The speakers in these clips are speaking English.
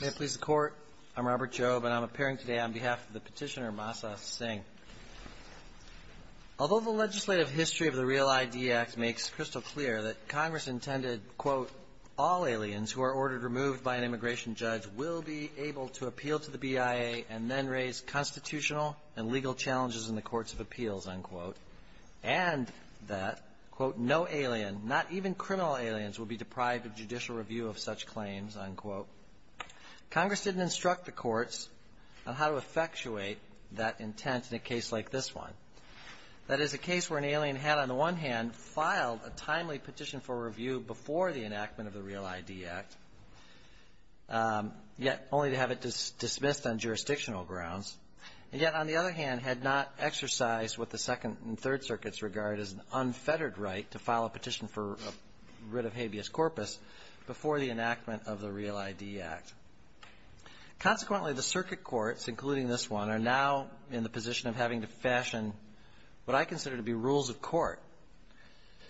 May it please the Court, I'm Robert Jobe and I'm appearing today on behalf of the petitioner Masa Singh. Although the legislative history of the REAL-ID Act makes crystal clear that Congress intended, quote, all aliens who are ordered removed by an immigration judge will be able to appeal to the BIA and then raise constitutional and legal challenges in the future, quote, no alien, not even criminal aliens will be deprived of judicial review of such claims, unquote. Congress didn't instruct the courts on how to effectuate that intent in a case like this one. That is a case where an alien had, on the one hand, filed a timely petition for review before the enactment of the REAL-ID Act, yet only to have it dismissed on jurisdictional grounds, and yet, on the other hand, had not exercised what the Second and Third Circuits regard as an unfettered right to file a petition for a writ of habeas corpus before the enactment of the REAL-ID Act. Consequently, the circuit courts, including this one, are now in the position of having to fashion what I consider to be rules of court.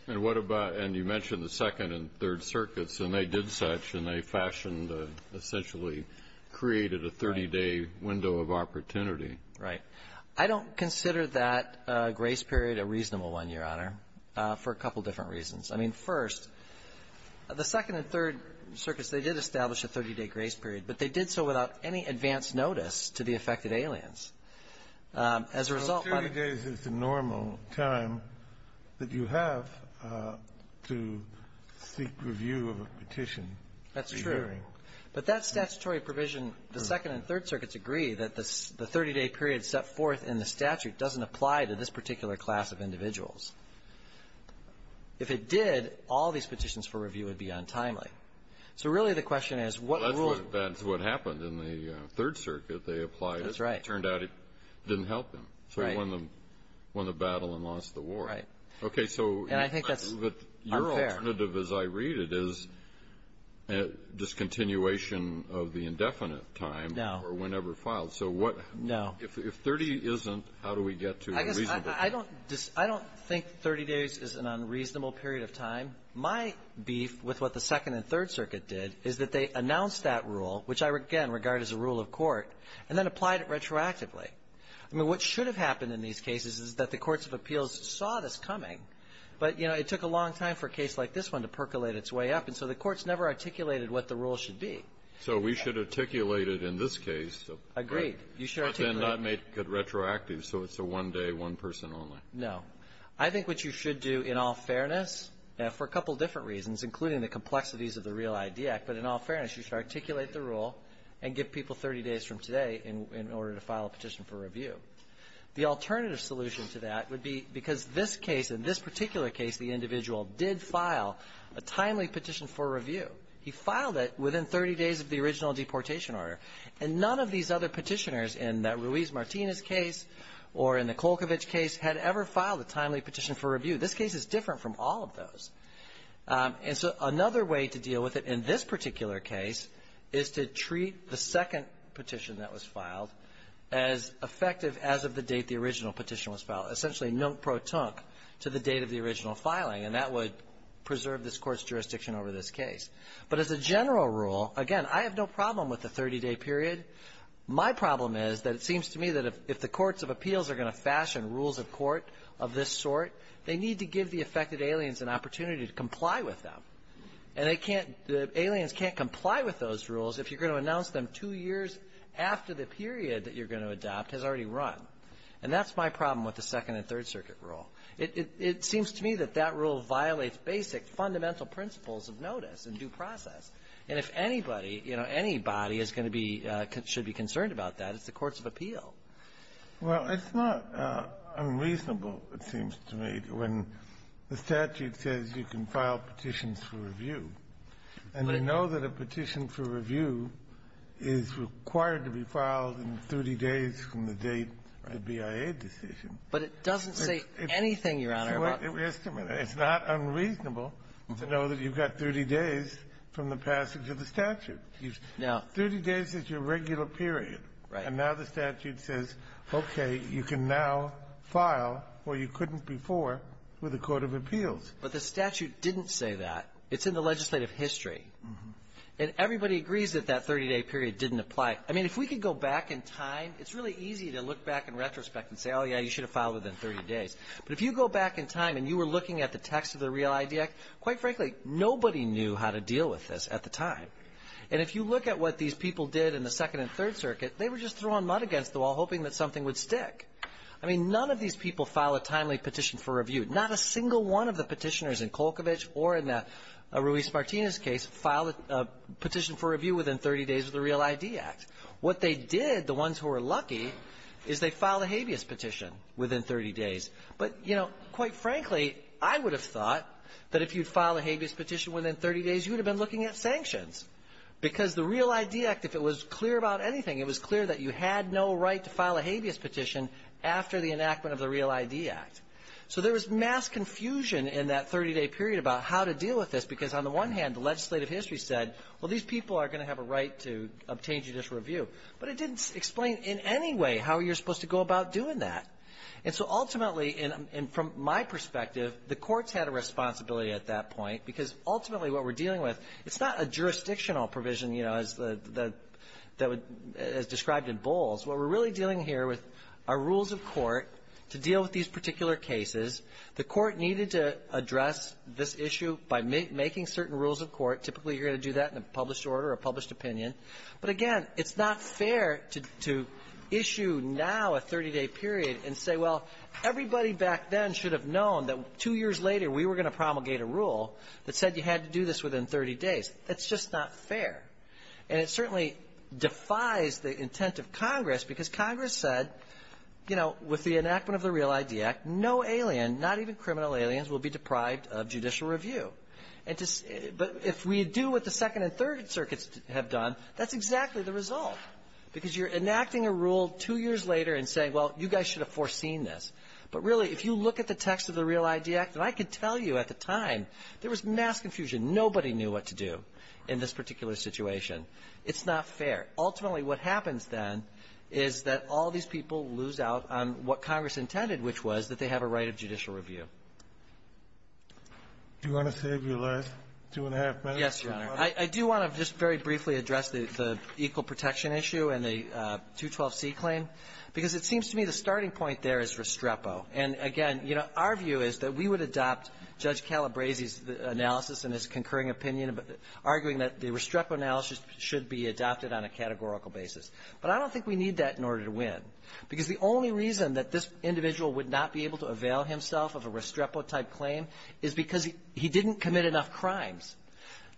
And what about, and you mentioned the Second and Third Circuits, and they did such, and they fashioned, essentially created a 30-day window of opportunity. Right. I don't consider that grace period a reasonable one, Your Honor, for a couple different reasons. I mean, first, the Second and Third Circuits, they did establish a 30-day grace period, but they did so without any advance notice to the affected aliens. As a result, by the 30 days is the normal time that you have to seek review of a petition. That's true. But that statutory provision, the Second and Third Circuits agree that the 30-day period set forth in the statute doesn't apply to this particular class of individuals. If it did, all these petitions for review would be untimely. So, really, the question is, what rules… Well, that's what happened in the Third Circuit. They applied it. That's right. It turned out it didn't help them. Right. So, they won the battle and lost the war. Right. Okay. So, I think that's unfair. The alternative, as I read it, is a discontinuation of the indefinite time or whenever filed. No. So, what… No. If 30 isn't, how do we get to a reasonable time? I don't think 30 days is an unreasonable period of time. My beef with what the Second and Third Circuit did is that they announced that rule, which I, again, regard as a rule of court, and then applied it retroactively. I mean, what should have happened in these cases is that the courts of appeals saw this coming, but, you know, it took a long time for a case like this one to percolate its way up. And so, the courts never articulated what the rule should be. So, we should articulate it in this case, but then not make it retroactive, so it's a one-day, one-person only. No. I think what you should do, in all fairness, for a couple different reasons, including the complexities of the Real ID Act, but in all fairness, you should articulate the rule and give people 30 days from today in order to file a petition for review. The alternative solution to that would be because this case, in this particular case, the individual did file a timely petition for review. He filed it within 30 days of the original deportation order. And none of these other petitioners in that Ruiz Martinez case or in the Kolkovich case had ever filed a timely petition for review. This case is different from all of those. And so, another way to deal with it in this particular case is to treat the second petition that was filed as effective as of the date the original petition was filed, essentially non-protonque, to the date of the original filing. And that would preserve this Court's jurisdiction over this case. But as a general rule, again, I have no problem with the 30-day period. My problem is that it seems to me that if the courts of appeals are going to fashion rules of court of this sort, they need to give the affected aliens an opportunity to comply with them. And they can't, the aliens can't comply with those rules if you're going to announce them two years after the period that you're going to adopt has already run. And that's my problem with the Second and Third Circuit rule. It seems to me that that rule violates basic fundamental principles of notice and due process. And if anybody, you know, anybody is going to be concerned about that, it's the courts of appeal. Well, it's not unreasonable, it seems to me, when the statute says you can file petitions for review, and you know that a petition for review is required to be filed in 30 days from the date of the BIA decision. But it doesn't say anything, Your Honor, about the 30-day period. It's not unreasonable to know that you've got 30 days from the passage of the statute. No. Thirty days is your regular period. Right. And now the statute says, okay, you can now file where you couldn't before with the court of appeals. But the statute didn't say that. It's in the legislative history. And everybody agrees that that 30-day period didn't apply. I mean, if we could go back in time, it's really easy to look back in retrospect and say, oh, yeah, you should have filed within 30 days. But if you go back in time and you were looking at the text of the REAL-ID Act, quite frankly, nobody knew how to deal with this at the time. And if you look at what these people did in the Second and Third Circuit, they were just throwing mud against the wall, hoping that something would stick. I mean, none of these people filed a timely petition for review. Not a single one of the petitioners in Kolkovich or in the Ruiz-Martinez case filed a petition for review within 30 days of the REAL-ID Act. What they did, the ones who were lucky, is they filed a habeas petition within 30 days. But, you know, quite frankly, I would have thought that if you'd filed a habeas petition within 30 days, you would have been looking at sanctions. Because the REAL-ID Act, if it was clear about anything, it was clear that you had no right to file a habeas petition after the enactment of the REAL-ID Act. So there was mass confusion in that 30-day period about how to deal with this. Because on the one hand, the legislative history said, well, these people are going to have a right to obtain judicial review. But it didn't explain in any way how you're supposed to go about doing that. And so ultimately, and from my perspective, the courts had a responsibility at that point. Because ultimately what we're dealing with, it's not a jurisdictional provision, you know, as described in Bowles. What we're really dealing here with are rules of court to deal with these particular cases. The Court needed to address this issue by making certain rules of court. Typically, you're going to do that in a published order or a published opinion. But again, it's not fair to issue now a 30-day period and say, well, everybody back then should have known that two years later, we were going to promulgate a rule that said you had to do this within 30 days. That's just not fair. And it certainly defies the intent of Congress, because Congress said, you know, with the enactment of the Real ID Act, no alien, not even criminal aliens, will be deprived of judicial review. But if we do what the Second and Third Circuits have done, that's exactly the result. Because you're enacting a rule two years later and saying, well, you guys should have foreseen this. But really, if you look at the text of the Real ID Act, and I could tell you at the time, there was mass confusion. Nobody knew what to do in this particular situation. It's not fair. Ultimately, what happens then is that all these people lose out on what Congress intended, which was that they have a right of judicial review. Do you want to save your last two-and-a-half minutes? Yes, Your Honor. I do want to just very briefly address the equal protection issue and the 212c claim, because it seems to me the starting point there is Restrepo. And again, you know, our view is that we would adopt Judge Calabresi's analysis and his concurring opinion, arguing that the Restrepo analysis should be adopted on a categorical basis. But I don't think we need that in order to win, because the only reason that this individual would not be able to avail himself of a Restrepo-type claim is because he didn't commit enough crimes.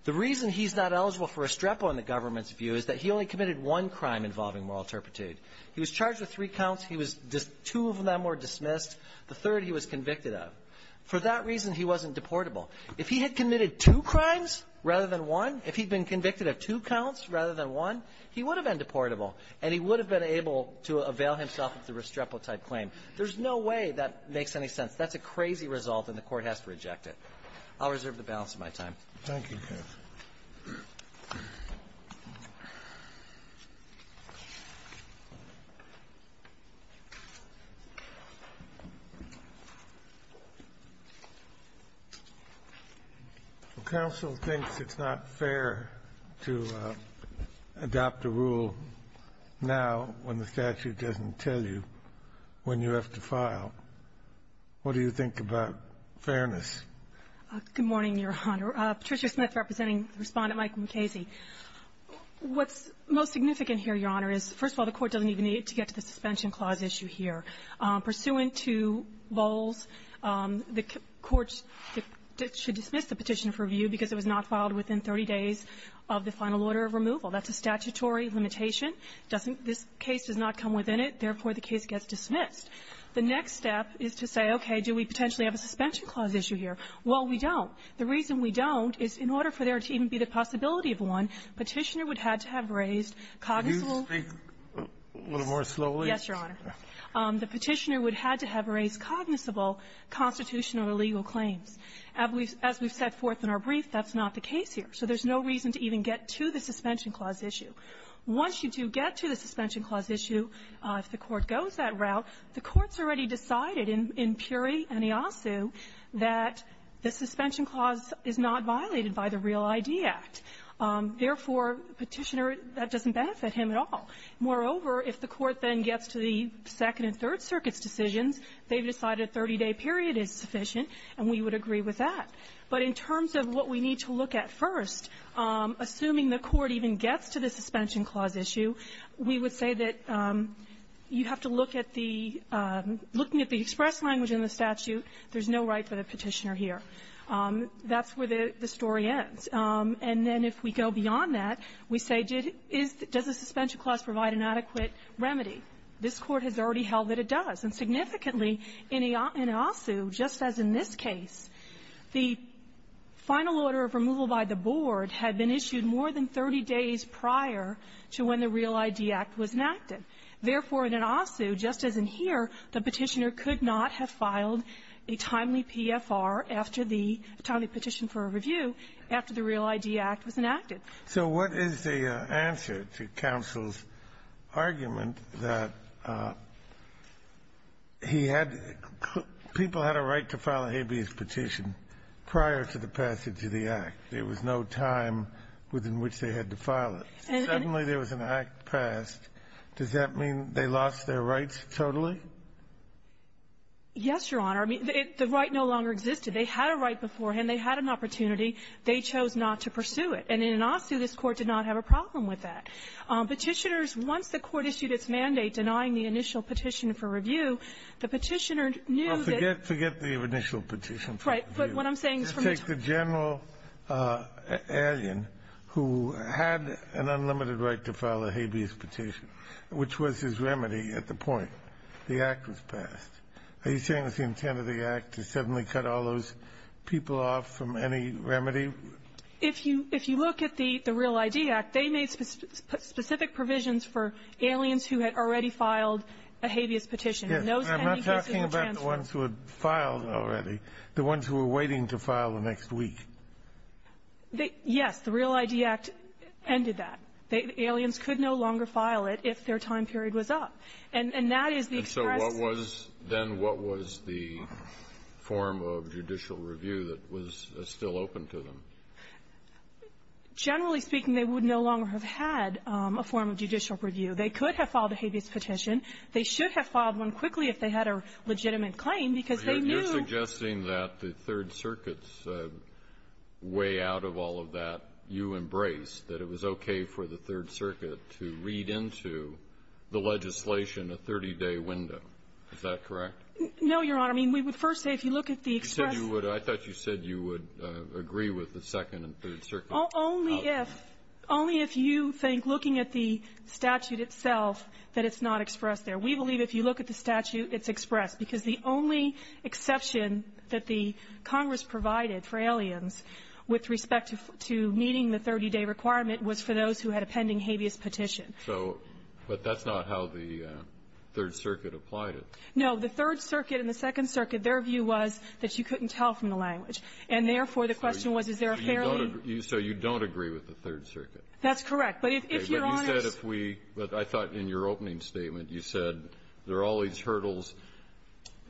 The reason he's not eligible for Restrepo in the government's view is that he only committed one crime involving moral turpitude. He was charged with three counts. He was just — two of them were dismissed. The third he was convicted of. For that reason, he wasn't deportable. If he had committed two crimes rather than one, if he'd been convicted of two counts rather than one, he would have been deportable, and he would have been able to avail himself of the Restrepo-type claim. There's no way that makes any sense. That's a crazy result, and the Court has to reject it. I'll reserve the balance of my time. Thank you, counsel. Counsel thinks it's not fair to adopt a rule now when the statute doesn't tell you when you have to file. What do you think about fairness? Good morning, Your Honor. Patricia Smith representing Respondent Mike McKayse. What's most significant here, Your Honor, is, first of all, the Court doesn't even need it to get to the suspension clause issue here. Pursuant to Bowles, the Court should dismiss the petition for review because it was not filed within 30 days of the final order of removal. That's a statutory limitation. It doesn't — this case does not come within it. Therefore, the case gets dismissed. The next step is to say, okay, do we potentially have a suspension clause issue here? Well, we don't. The reason we don't is in order for there to even be the possibility of one, Petitioner would have to have raised cognizable — Can you speak a little more slowly? Yes, Your Honor. The Petitioner would have to have raised cognizable constitutional or legal claims. As we've set forth in our brief, that's not the case here. So there's no reason to even get to the suspension clause issue. Once you do get to the suspension clause issue, if the Court goes that route, the Court's already decided in Puri and Iasu that the suspension clause is not violated by the Real ID Act. Therefore, Petitioner, that doesn't benefit him at all. Moreover, if the Court then gets to the Second and Third Circuit's decisions, they've decided a 30-day period is sufficient, and we would agree with that. But in terms of what we need to look at first, assuming the Court even gets to the suspension clause issue, we would say that you have to look at the — looking at the express language in the statute, there's no right for the Petitioner here. That's where the story ends. And then if we go beyond that, we say, did — does the suspension clause provide an adequate remedy? This Court has already held that it does. And significantly in Iasu, just as in this case, the final order of removal by the board had been to when the Real ID Act was enacted. Therefore, in Iasu, just as in here, the Petitioner could not have filed a timely PFR after the — a timely petition for review after the Real ID Act was enacted. So what is the answer to counsel's argument that he had — people had a right to file a habeas petition prior to the passage of the Act? There was no time within which they had to file it. And in — Suddenly there was an act passed. Does that mean they lost their rights totally? Yes, Your Honor. I mean, the right no longer existed. They had a right beforehand. They had an opportunity. They chose not to pursue it. And in Iasu, this Court did not have a problem with that. Petitioners, once the Court issued its mandate denying the initial petition for review, the Petitioner knew that — Well, forget — forget the initial petition for review. Right. But what I'm saying is from the time —— who had an unlimited right to file a habeas petition, which was his remedy at the point the Act was passed, are you saying it was the intent of the Act to suddenly cut all those people off from any remedy? If you — if you look at the — the Real ID Act, they made specific provisions for aliens who had already filed a habeas petition. Yes. And those — And I'm not talking about the ones who had filed already, the ones who were waiting to file the next week. They — yes, the Real ID Act ended that. The aliens could no longer file it if their time period was up. And that is the express — And so what was — then what was the form of judicial review that was still open to them? Generally speaking, they would no longer have had a form of judicial review. They could have filed a habeas petition. They should have filed one quickly if they had a legitimate claim, because they knew — they knew way out of all of that, you embraced, that it was okay for the Third Circuit to read into the legislation a 30-day window. Is that correct? No, Your Honor. I mean, we would first say if you look at the express — You said you would — I thought you said you would agree with the Second and Third Circuit. Only if — only if you think, looking at the statute itself, that it's not expressed there. We believe if you look at the statute, it's expressed, because the only exception that the Congress provided for aliens with respect to meeting the 30-day requirement was for those who had a pending habeas petition. So — but that's not how the Third Circuit applied it. No. The Third Circuit and the Second Circuit, their view was that you couldn't tell from the language. And therefore, the question was, is there a fair — So you don't — so you don't agree with the Third Circuit? That's correct. But if Your Honor — But you said if we — I thought in your opening statement, you said there are all kinds of hurdles,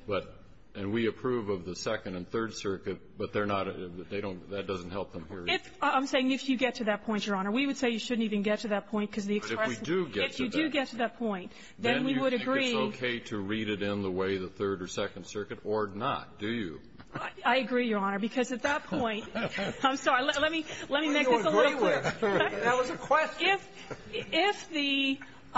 but — and we approve of the Second and Third Circuit, but they're not — they don't — that doesn't help them here. If — I'm saying if you get to that point, Your Honor. We would say you shouldn't even get to that point, because the express — But if we do get to that point — If you do get to that point, then we would agree — Then you think it's okay to read it in the way the Third or Second Circuit, or not? Do you? I agree, Your Honor, because at that point — I'm sorry. Let me — let me make this a little clearer. That was a question. If — if the —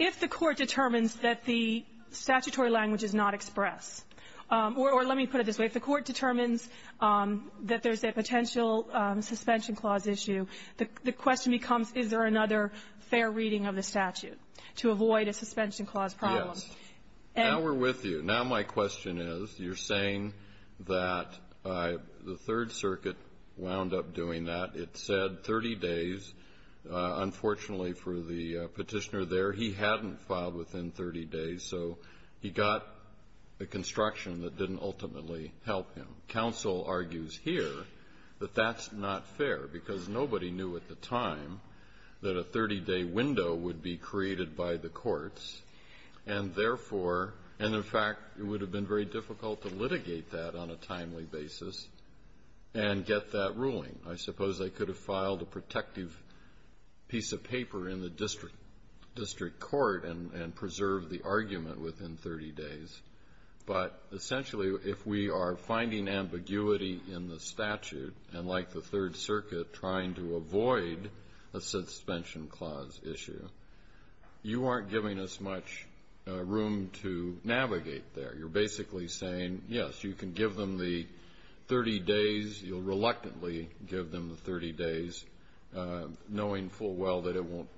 if the Court determines that the statutory language is not express or — or let me put it this way. If the Court determines that there's a potential suspension clause issue, the question becomes, is there another fair reading of the statute to avoid a suspension clause problem? Yes. And — Now we're with you. Now my question is, you're saying that the Third Circuit wound up doing that. It said 30 days. Unfortunately for the Petitioner there, he hadn't filed within 30 days, so he got a construction that didn't ultimately help him. Counsel argues here that that's not fair, because nobody knew at the time that a 30-day window would be created by the courts, and therefore — and, in fact, it would have been very difficult to litigate that on a timely basis and get that ruling. I suppose they could have filed a protective piece of paper in the district — district court and — and preserved the argument within 30 days. But essentially, if we are finding ambiguity in the statute, and like the Third Circuit trying to avoid a suspension clause issue, you aren't giving us much room to navigate there. You're basically saying, yes, you can give them the 30 days. You'll reluctantly give them the 30 days, knowing full well that it won't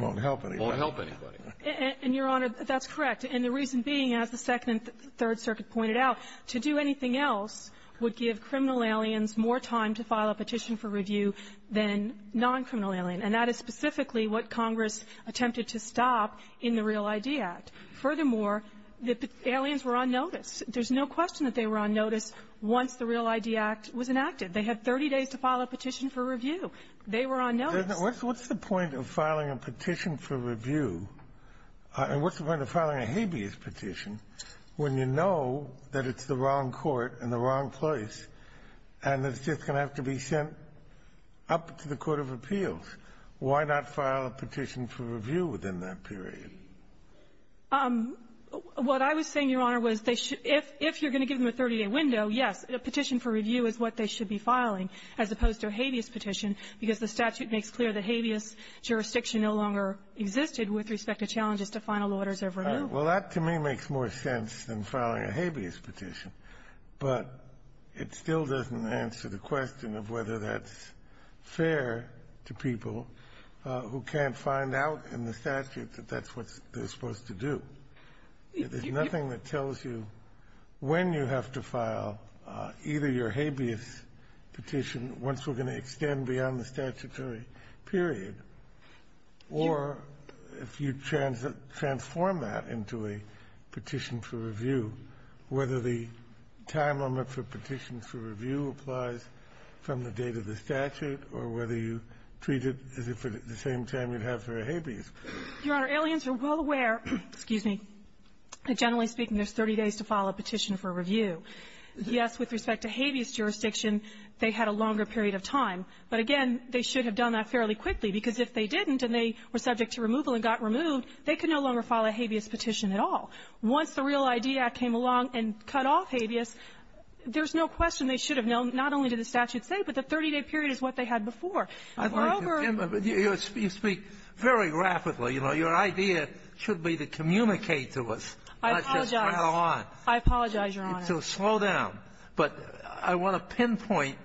— Won't help anybody. Won't help anybody. And, Your Honor, that's correct. And the reason being, as the Second and Third Circuit pointed out, to do anything else would give criminal aliens more time to file a petition for review than non-criminal alien. And that is specifically what Congress attempted to stop in the REAL-ID Act. Furthermore, the aliens were on notice. There's no question that they were on notice once the REAL-ID Act was enacted. They had 30 days to file a petition for review. They were on notice. What's the point of filing a petition for review, and what's the point of filing a habeas petition, when you know that it's the wrong court in the wrong place, and it's just going to have to be sent up to the court of appeals? Why not file a petition for review within that period? What I was saying, Your Honor, was they should — if you're going to give them a 30-day window, yes, a petition for review is what they should be filing, as opposed to a habeas petition, because the statute makes clear that habeas jurisdiction no longer existed with respect to challenges to final orders of removal. Well, that to me makes more sense than filing a habeas petition, but it still doesn't answer the question of whether that's fair to people who can't find out in the statute that that's what they're supposed to do. There's nothing that tells you when you have to file either your habeas petition once we're going to extend beyond the statutory period, or if you transform that into a petition for review, whether the time limit for petitions for review applies from the date of the statute, or whether you treat it as if at the same time you'd have for a habeas. Your Honor, aliens are well aware — excuse me — that, generally speaking, there's 30 days to file a petition for review. Yes, with respect to habeas jurisdiction, they had a longer period of time. But again, they should have done that fairly quickly, because if they didn't and they were subject to removal and got removed, they could no longer file a habeas petition at all. Once the REAL ID Act came along and cut off habeas, there's no question they should have known not only did the statute say, but the 30-day period is what they had before. I'd like to — you speak very rapidly. You know, your idea should be to communicate to us, not just rattle on. I apologize. I apologize, Your Honor. So slow down. But I want to pinpoint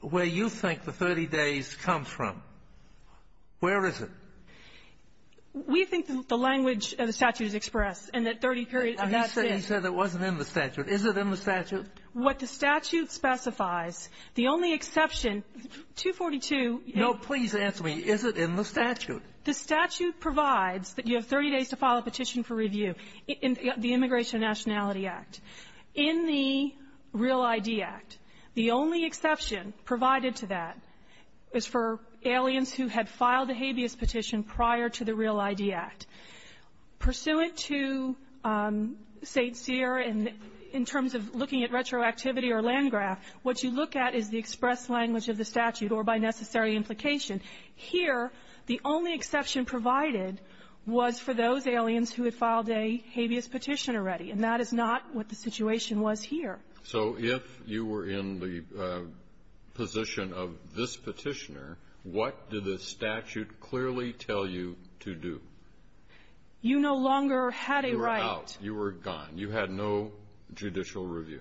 where you think the 30 days comes from. Where is it? We think the language of the statute is expressed, and that 30 periods of that's it. He said it wasn't in the statute. Is it in the statute? What the statute specifies, the only exception, 242 — No, please answer me. Is it in the statute? The statute provides that you have 30 days to file a petition for review in the Immigration and Nationality Act. In the REAL ID Act, the only exception provided to that is for aliens who had filed a habeas petition prior to the REAL ID Act. Pursuant to St. Cyr, in terms of looking at retroactivity or land graph, what you look at is the expressed language of the statute, or by necessary implication. Here, the only exception provided was for those aliens who had filed a habeas petition already, and that is not what the situation was here. So if you were in the position of this petitioner, what did the statute clearly tell you to do? You no longer had a right. You were out. You were gone. You had no judicial review.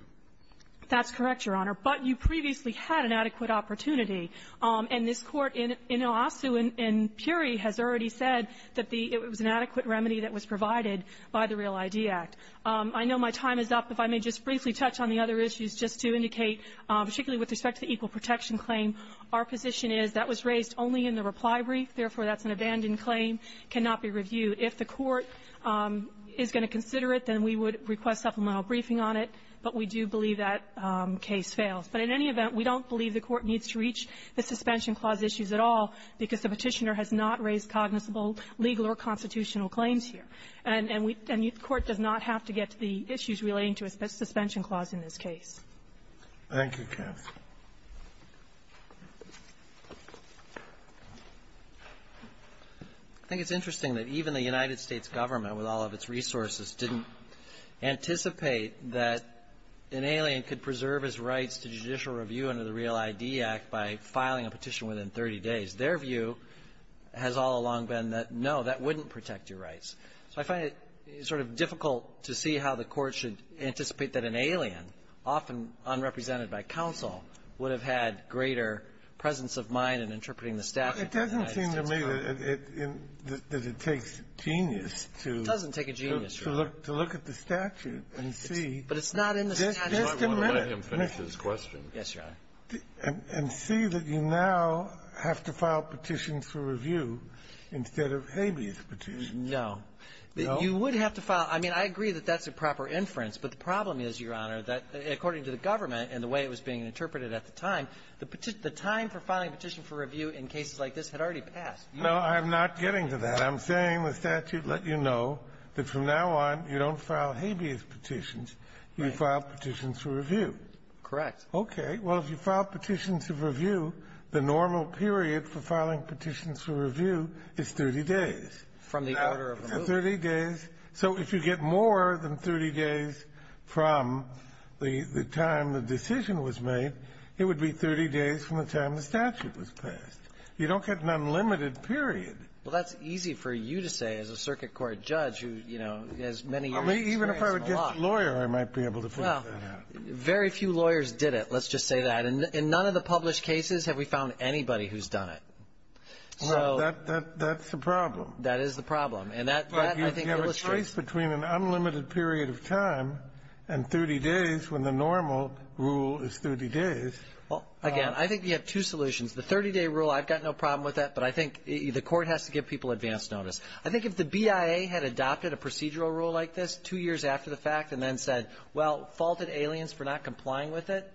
That's correct, Your Honor. But you previously had an adequate opportunity. And this Court, in Oasu and Puri, has already said that the — it was an adequate remedy that was provided by the REAL ID Act. I know my time is up. If I may just briefly touch on the other issues, just to indicate, particularly with respect to the equal protection claim, our position is that was raised only in the reply brief. Therefore, that's an abandoned claim, cannot be reviewed. If the Court is going to consider it, then we would request supplemental briefing on it. But we do believe that case fails. But in any event, we don't believe the Court needs to reach the suspension clause issues at all because the petitioner has not raised cognizable legal or constitutional claims here. And we — and the Court does not have to get to the issues relating to a suspension clause in this case. Thank you, Kath. I think it's interesting that even the United States government, with all of its resources, didn't anticipate that an alien could preserve his rights to judicial review under the REAL ID Act by filing a petition within 30 days. Their view has all along been that, no, that wouldn't protect your rights. So I find it sort of difficult to see how the Court should anticipate that an alien often unrepresented by counsel would have had greater presence of mind in interpreting the statute than the United States government. It doesn't seem to me that it takes genius to — It doesn't take a genius, Your Honor. — to look at the statute and see — But it's not in the statute. You might want to let him finish his question. Yes, Your Honor. And see that you now have to file petitions for review instead of habeas petitions. No. You would have to file — I mean, I agree that that's a proper inference. But the problem is, Your Honor, that, according to the government and the way it was being interpreted at the time, the time for filing a petition for review in cases like this had already passed. No, I'm not getting to that. I'm saying the statute let you know that from now on, you don't file habeas petitions. Right. You file petitions for review. Correct. Okay. Well, if you file petitions for review, the normal period for filing petitions for review is 30 days. From the order of the move. Now, 30 days. So if you get more than 30 days from the time the decision was made, it would be 30 days from the time the statute was passed. You don't get an unlimited period. Well, that's easy for you to say as a Circuit Court judge who, you know, has many years of experience and a lot. Even if I were just a lawyer, I might be able to figure that out. Well, very few lawyers did it, let's just say that. And in none of the published cases have we found anybody who's done it. So — Well, that's the problem. That is the problem. And that, I think, illustrates — But you have a choice between an unlimited period of time and 30 days when the normal rule is 30 days. Well, again, I think you have two solutions. The 30-day rule, I've got no problem with that. But I think the Court has to give people advance notice. I think if the BIA had adopted a procedural rule like this two years after the fact and then said, well, faulted aliens for not complying with it,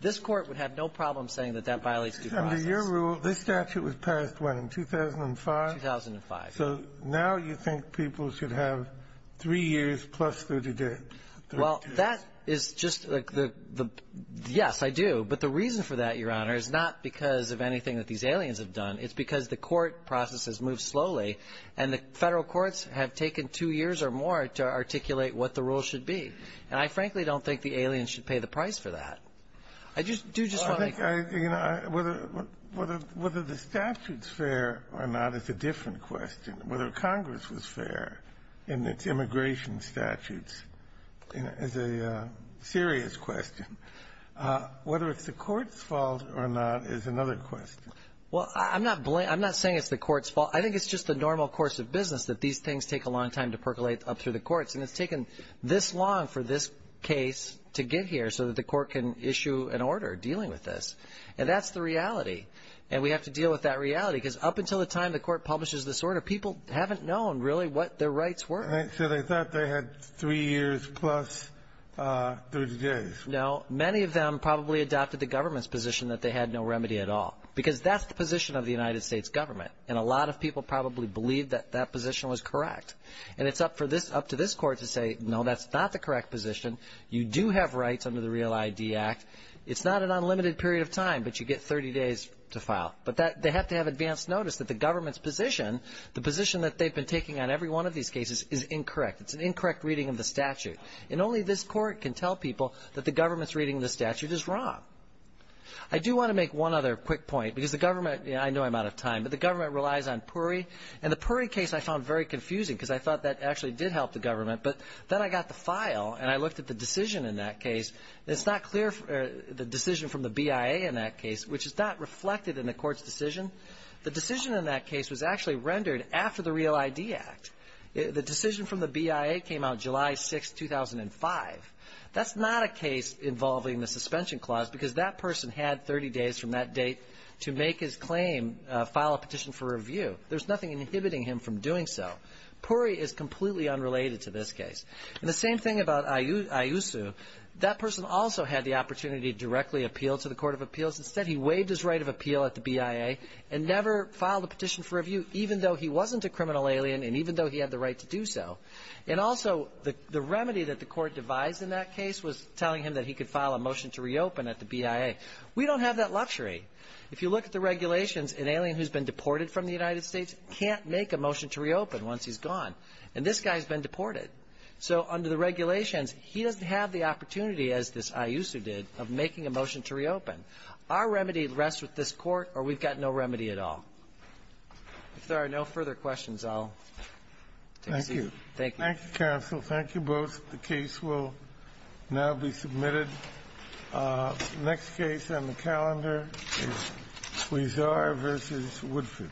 this Court would have no problem saying that that violates due process. Under your rule, this statute was passed, what, in 2005? 2005. So now you think people should have three years plus 30 days. Well, that is just the — yes, I do. But the reason for that, Your Honor, is not because of anything that these aliens have done. It's because the court process has moved slowly, and the Federal courts have taken two years or more to articulate what the rule should be. And I, frankly, don't think the aliens should pay the price for that. I just do just want to make — I — you know, whether the statute's fair or not is a different question. Whether Congress was fair in its immigration statutes is a serious question. Whether it's the Court's fault or not is another question. Well, I'm not saying it's the Court's fault. I think it's just the normal course of business, that these things take a long time to percolate up through the courts. And it's taken this long for this case to get here so that the Court can issue an And that's the reality. And we have to deal with that reality. Because up until the time the Court publishes this order, people haven't known, really, what their rights were. So they thought they had three years plus 30 days. No. Many of them probably adopted the government's position that they had no remedy at all, because that's the position of the United States government. And a lot of people probably believe that that position was correct. And it's up for this — up to this Court to say, no, that's not the correct position. You do have rights under the REAL ID Act. It's not an unlimited period of time. But you get 30 days to file. But they have to have advance notice that the government's position — the position that they've been taking on every one of these cases is incorrect. It's an incorrect reading of the statute. And only this Court can tell people that the government's reading of the statute is wrong. I do want to make one other quick point. Because the government — I know I'm out of time. But the government relies on PURI. And the PURI case I found very confusing. Because I thought that actually did help the government. But then I got the file, and I looked at the decision in that case. It's not clear — the decision from the BIA in that case, which is not reflected in the Court's decision. The decision in that case was actually rendered after the REAL ID Act. The decision from the BIA came out July 6, 2005. That's not a case involving the suspension clause. Because that person had 30 days from that date to make his claim — file a petition for review. There's nothing inhibiting him from doing so. PURI is completely unrelated to this case. And the same thing about IUSU. That person also had the opportunity to directly appeal to the Court of Appeals. Instead, he waived his right of appeal at the BIA and never filed a petition for review, even though he wasn't a criminal alien and even though he had the right to do so. And also, the remedy that the Court devised in that case was telling him that he could file a motion to reopen at the BIA. We don't have that luxury. If you look at the regulations, an alien who's been deported from the United States can't make a motion to reopen once he's gone. And this guy's been deported. So under the regulations, he doesn't have the opportunity, as this IUSU did, of making a motion to reopen. Our remedy rests with this Court, or we've got no remedy at all. If there are no further questions, I'll take a seat. Thank you. Thank you, counsel. Thank you both. The case will now be submitted. Next case on the calendar is Huizar v. Woodford.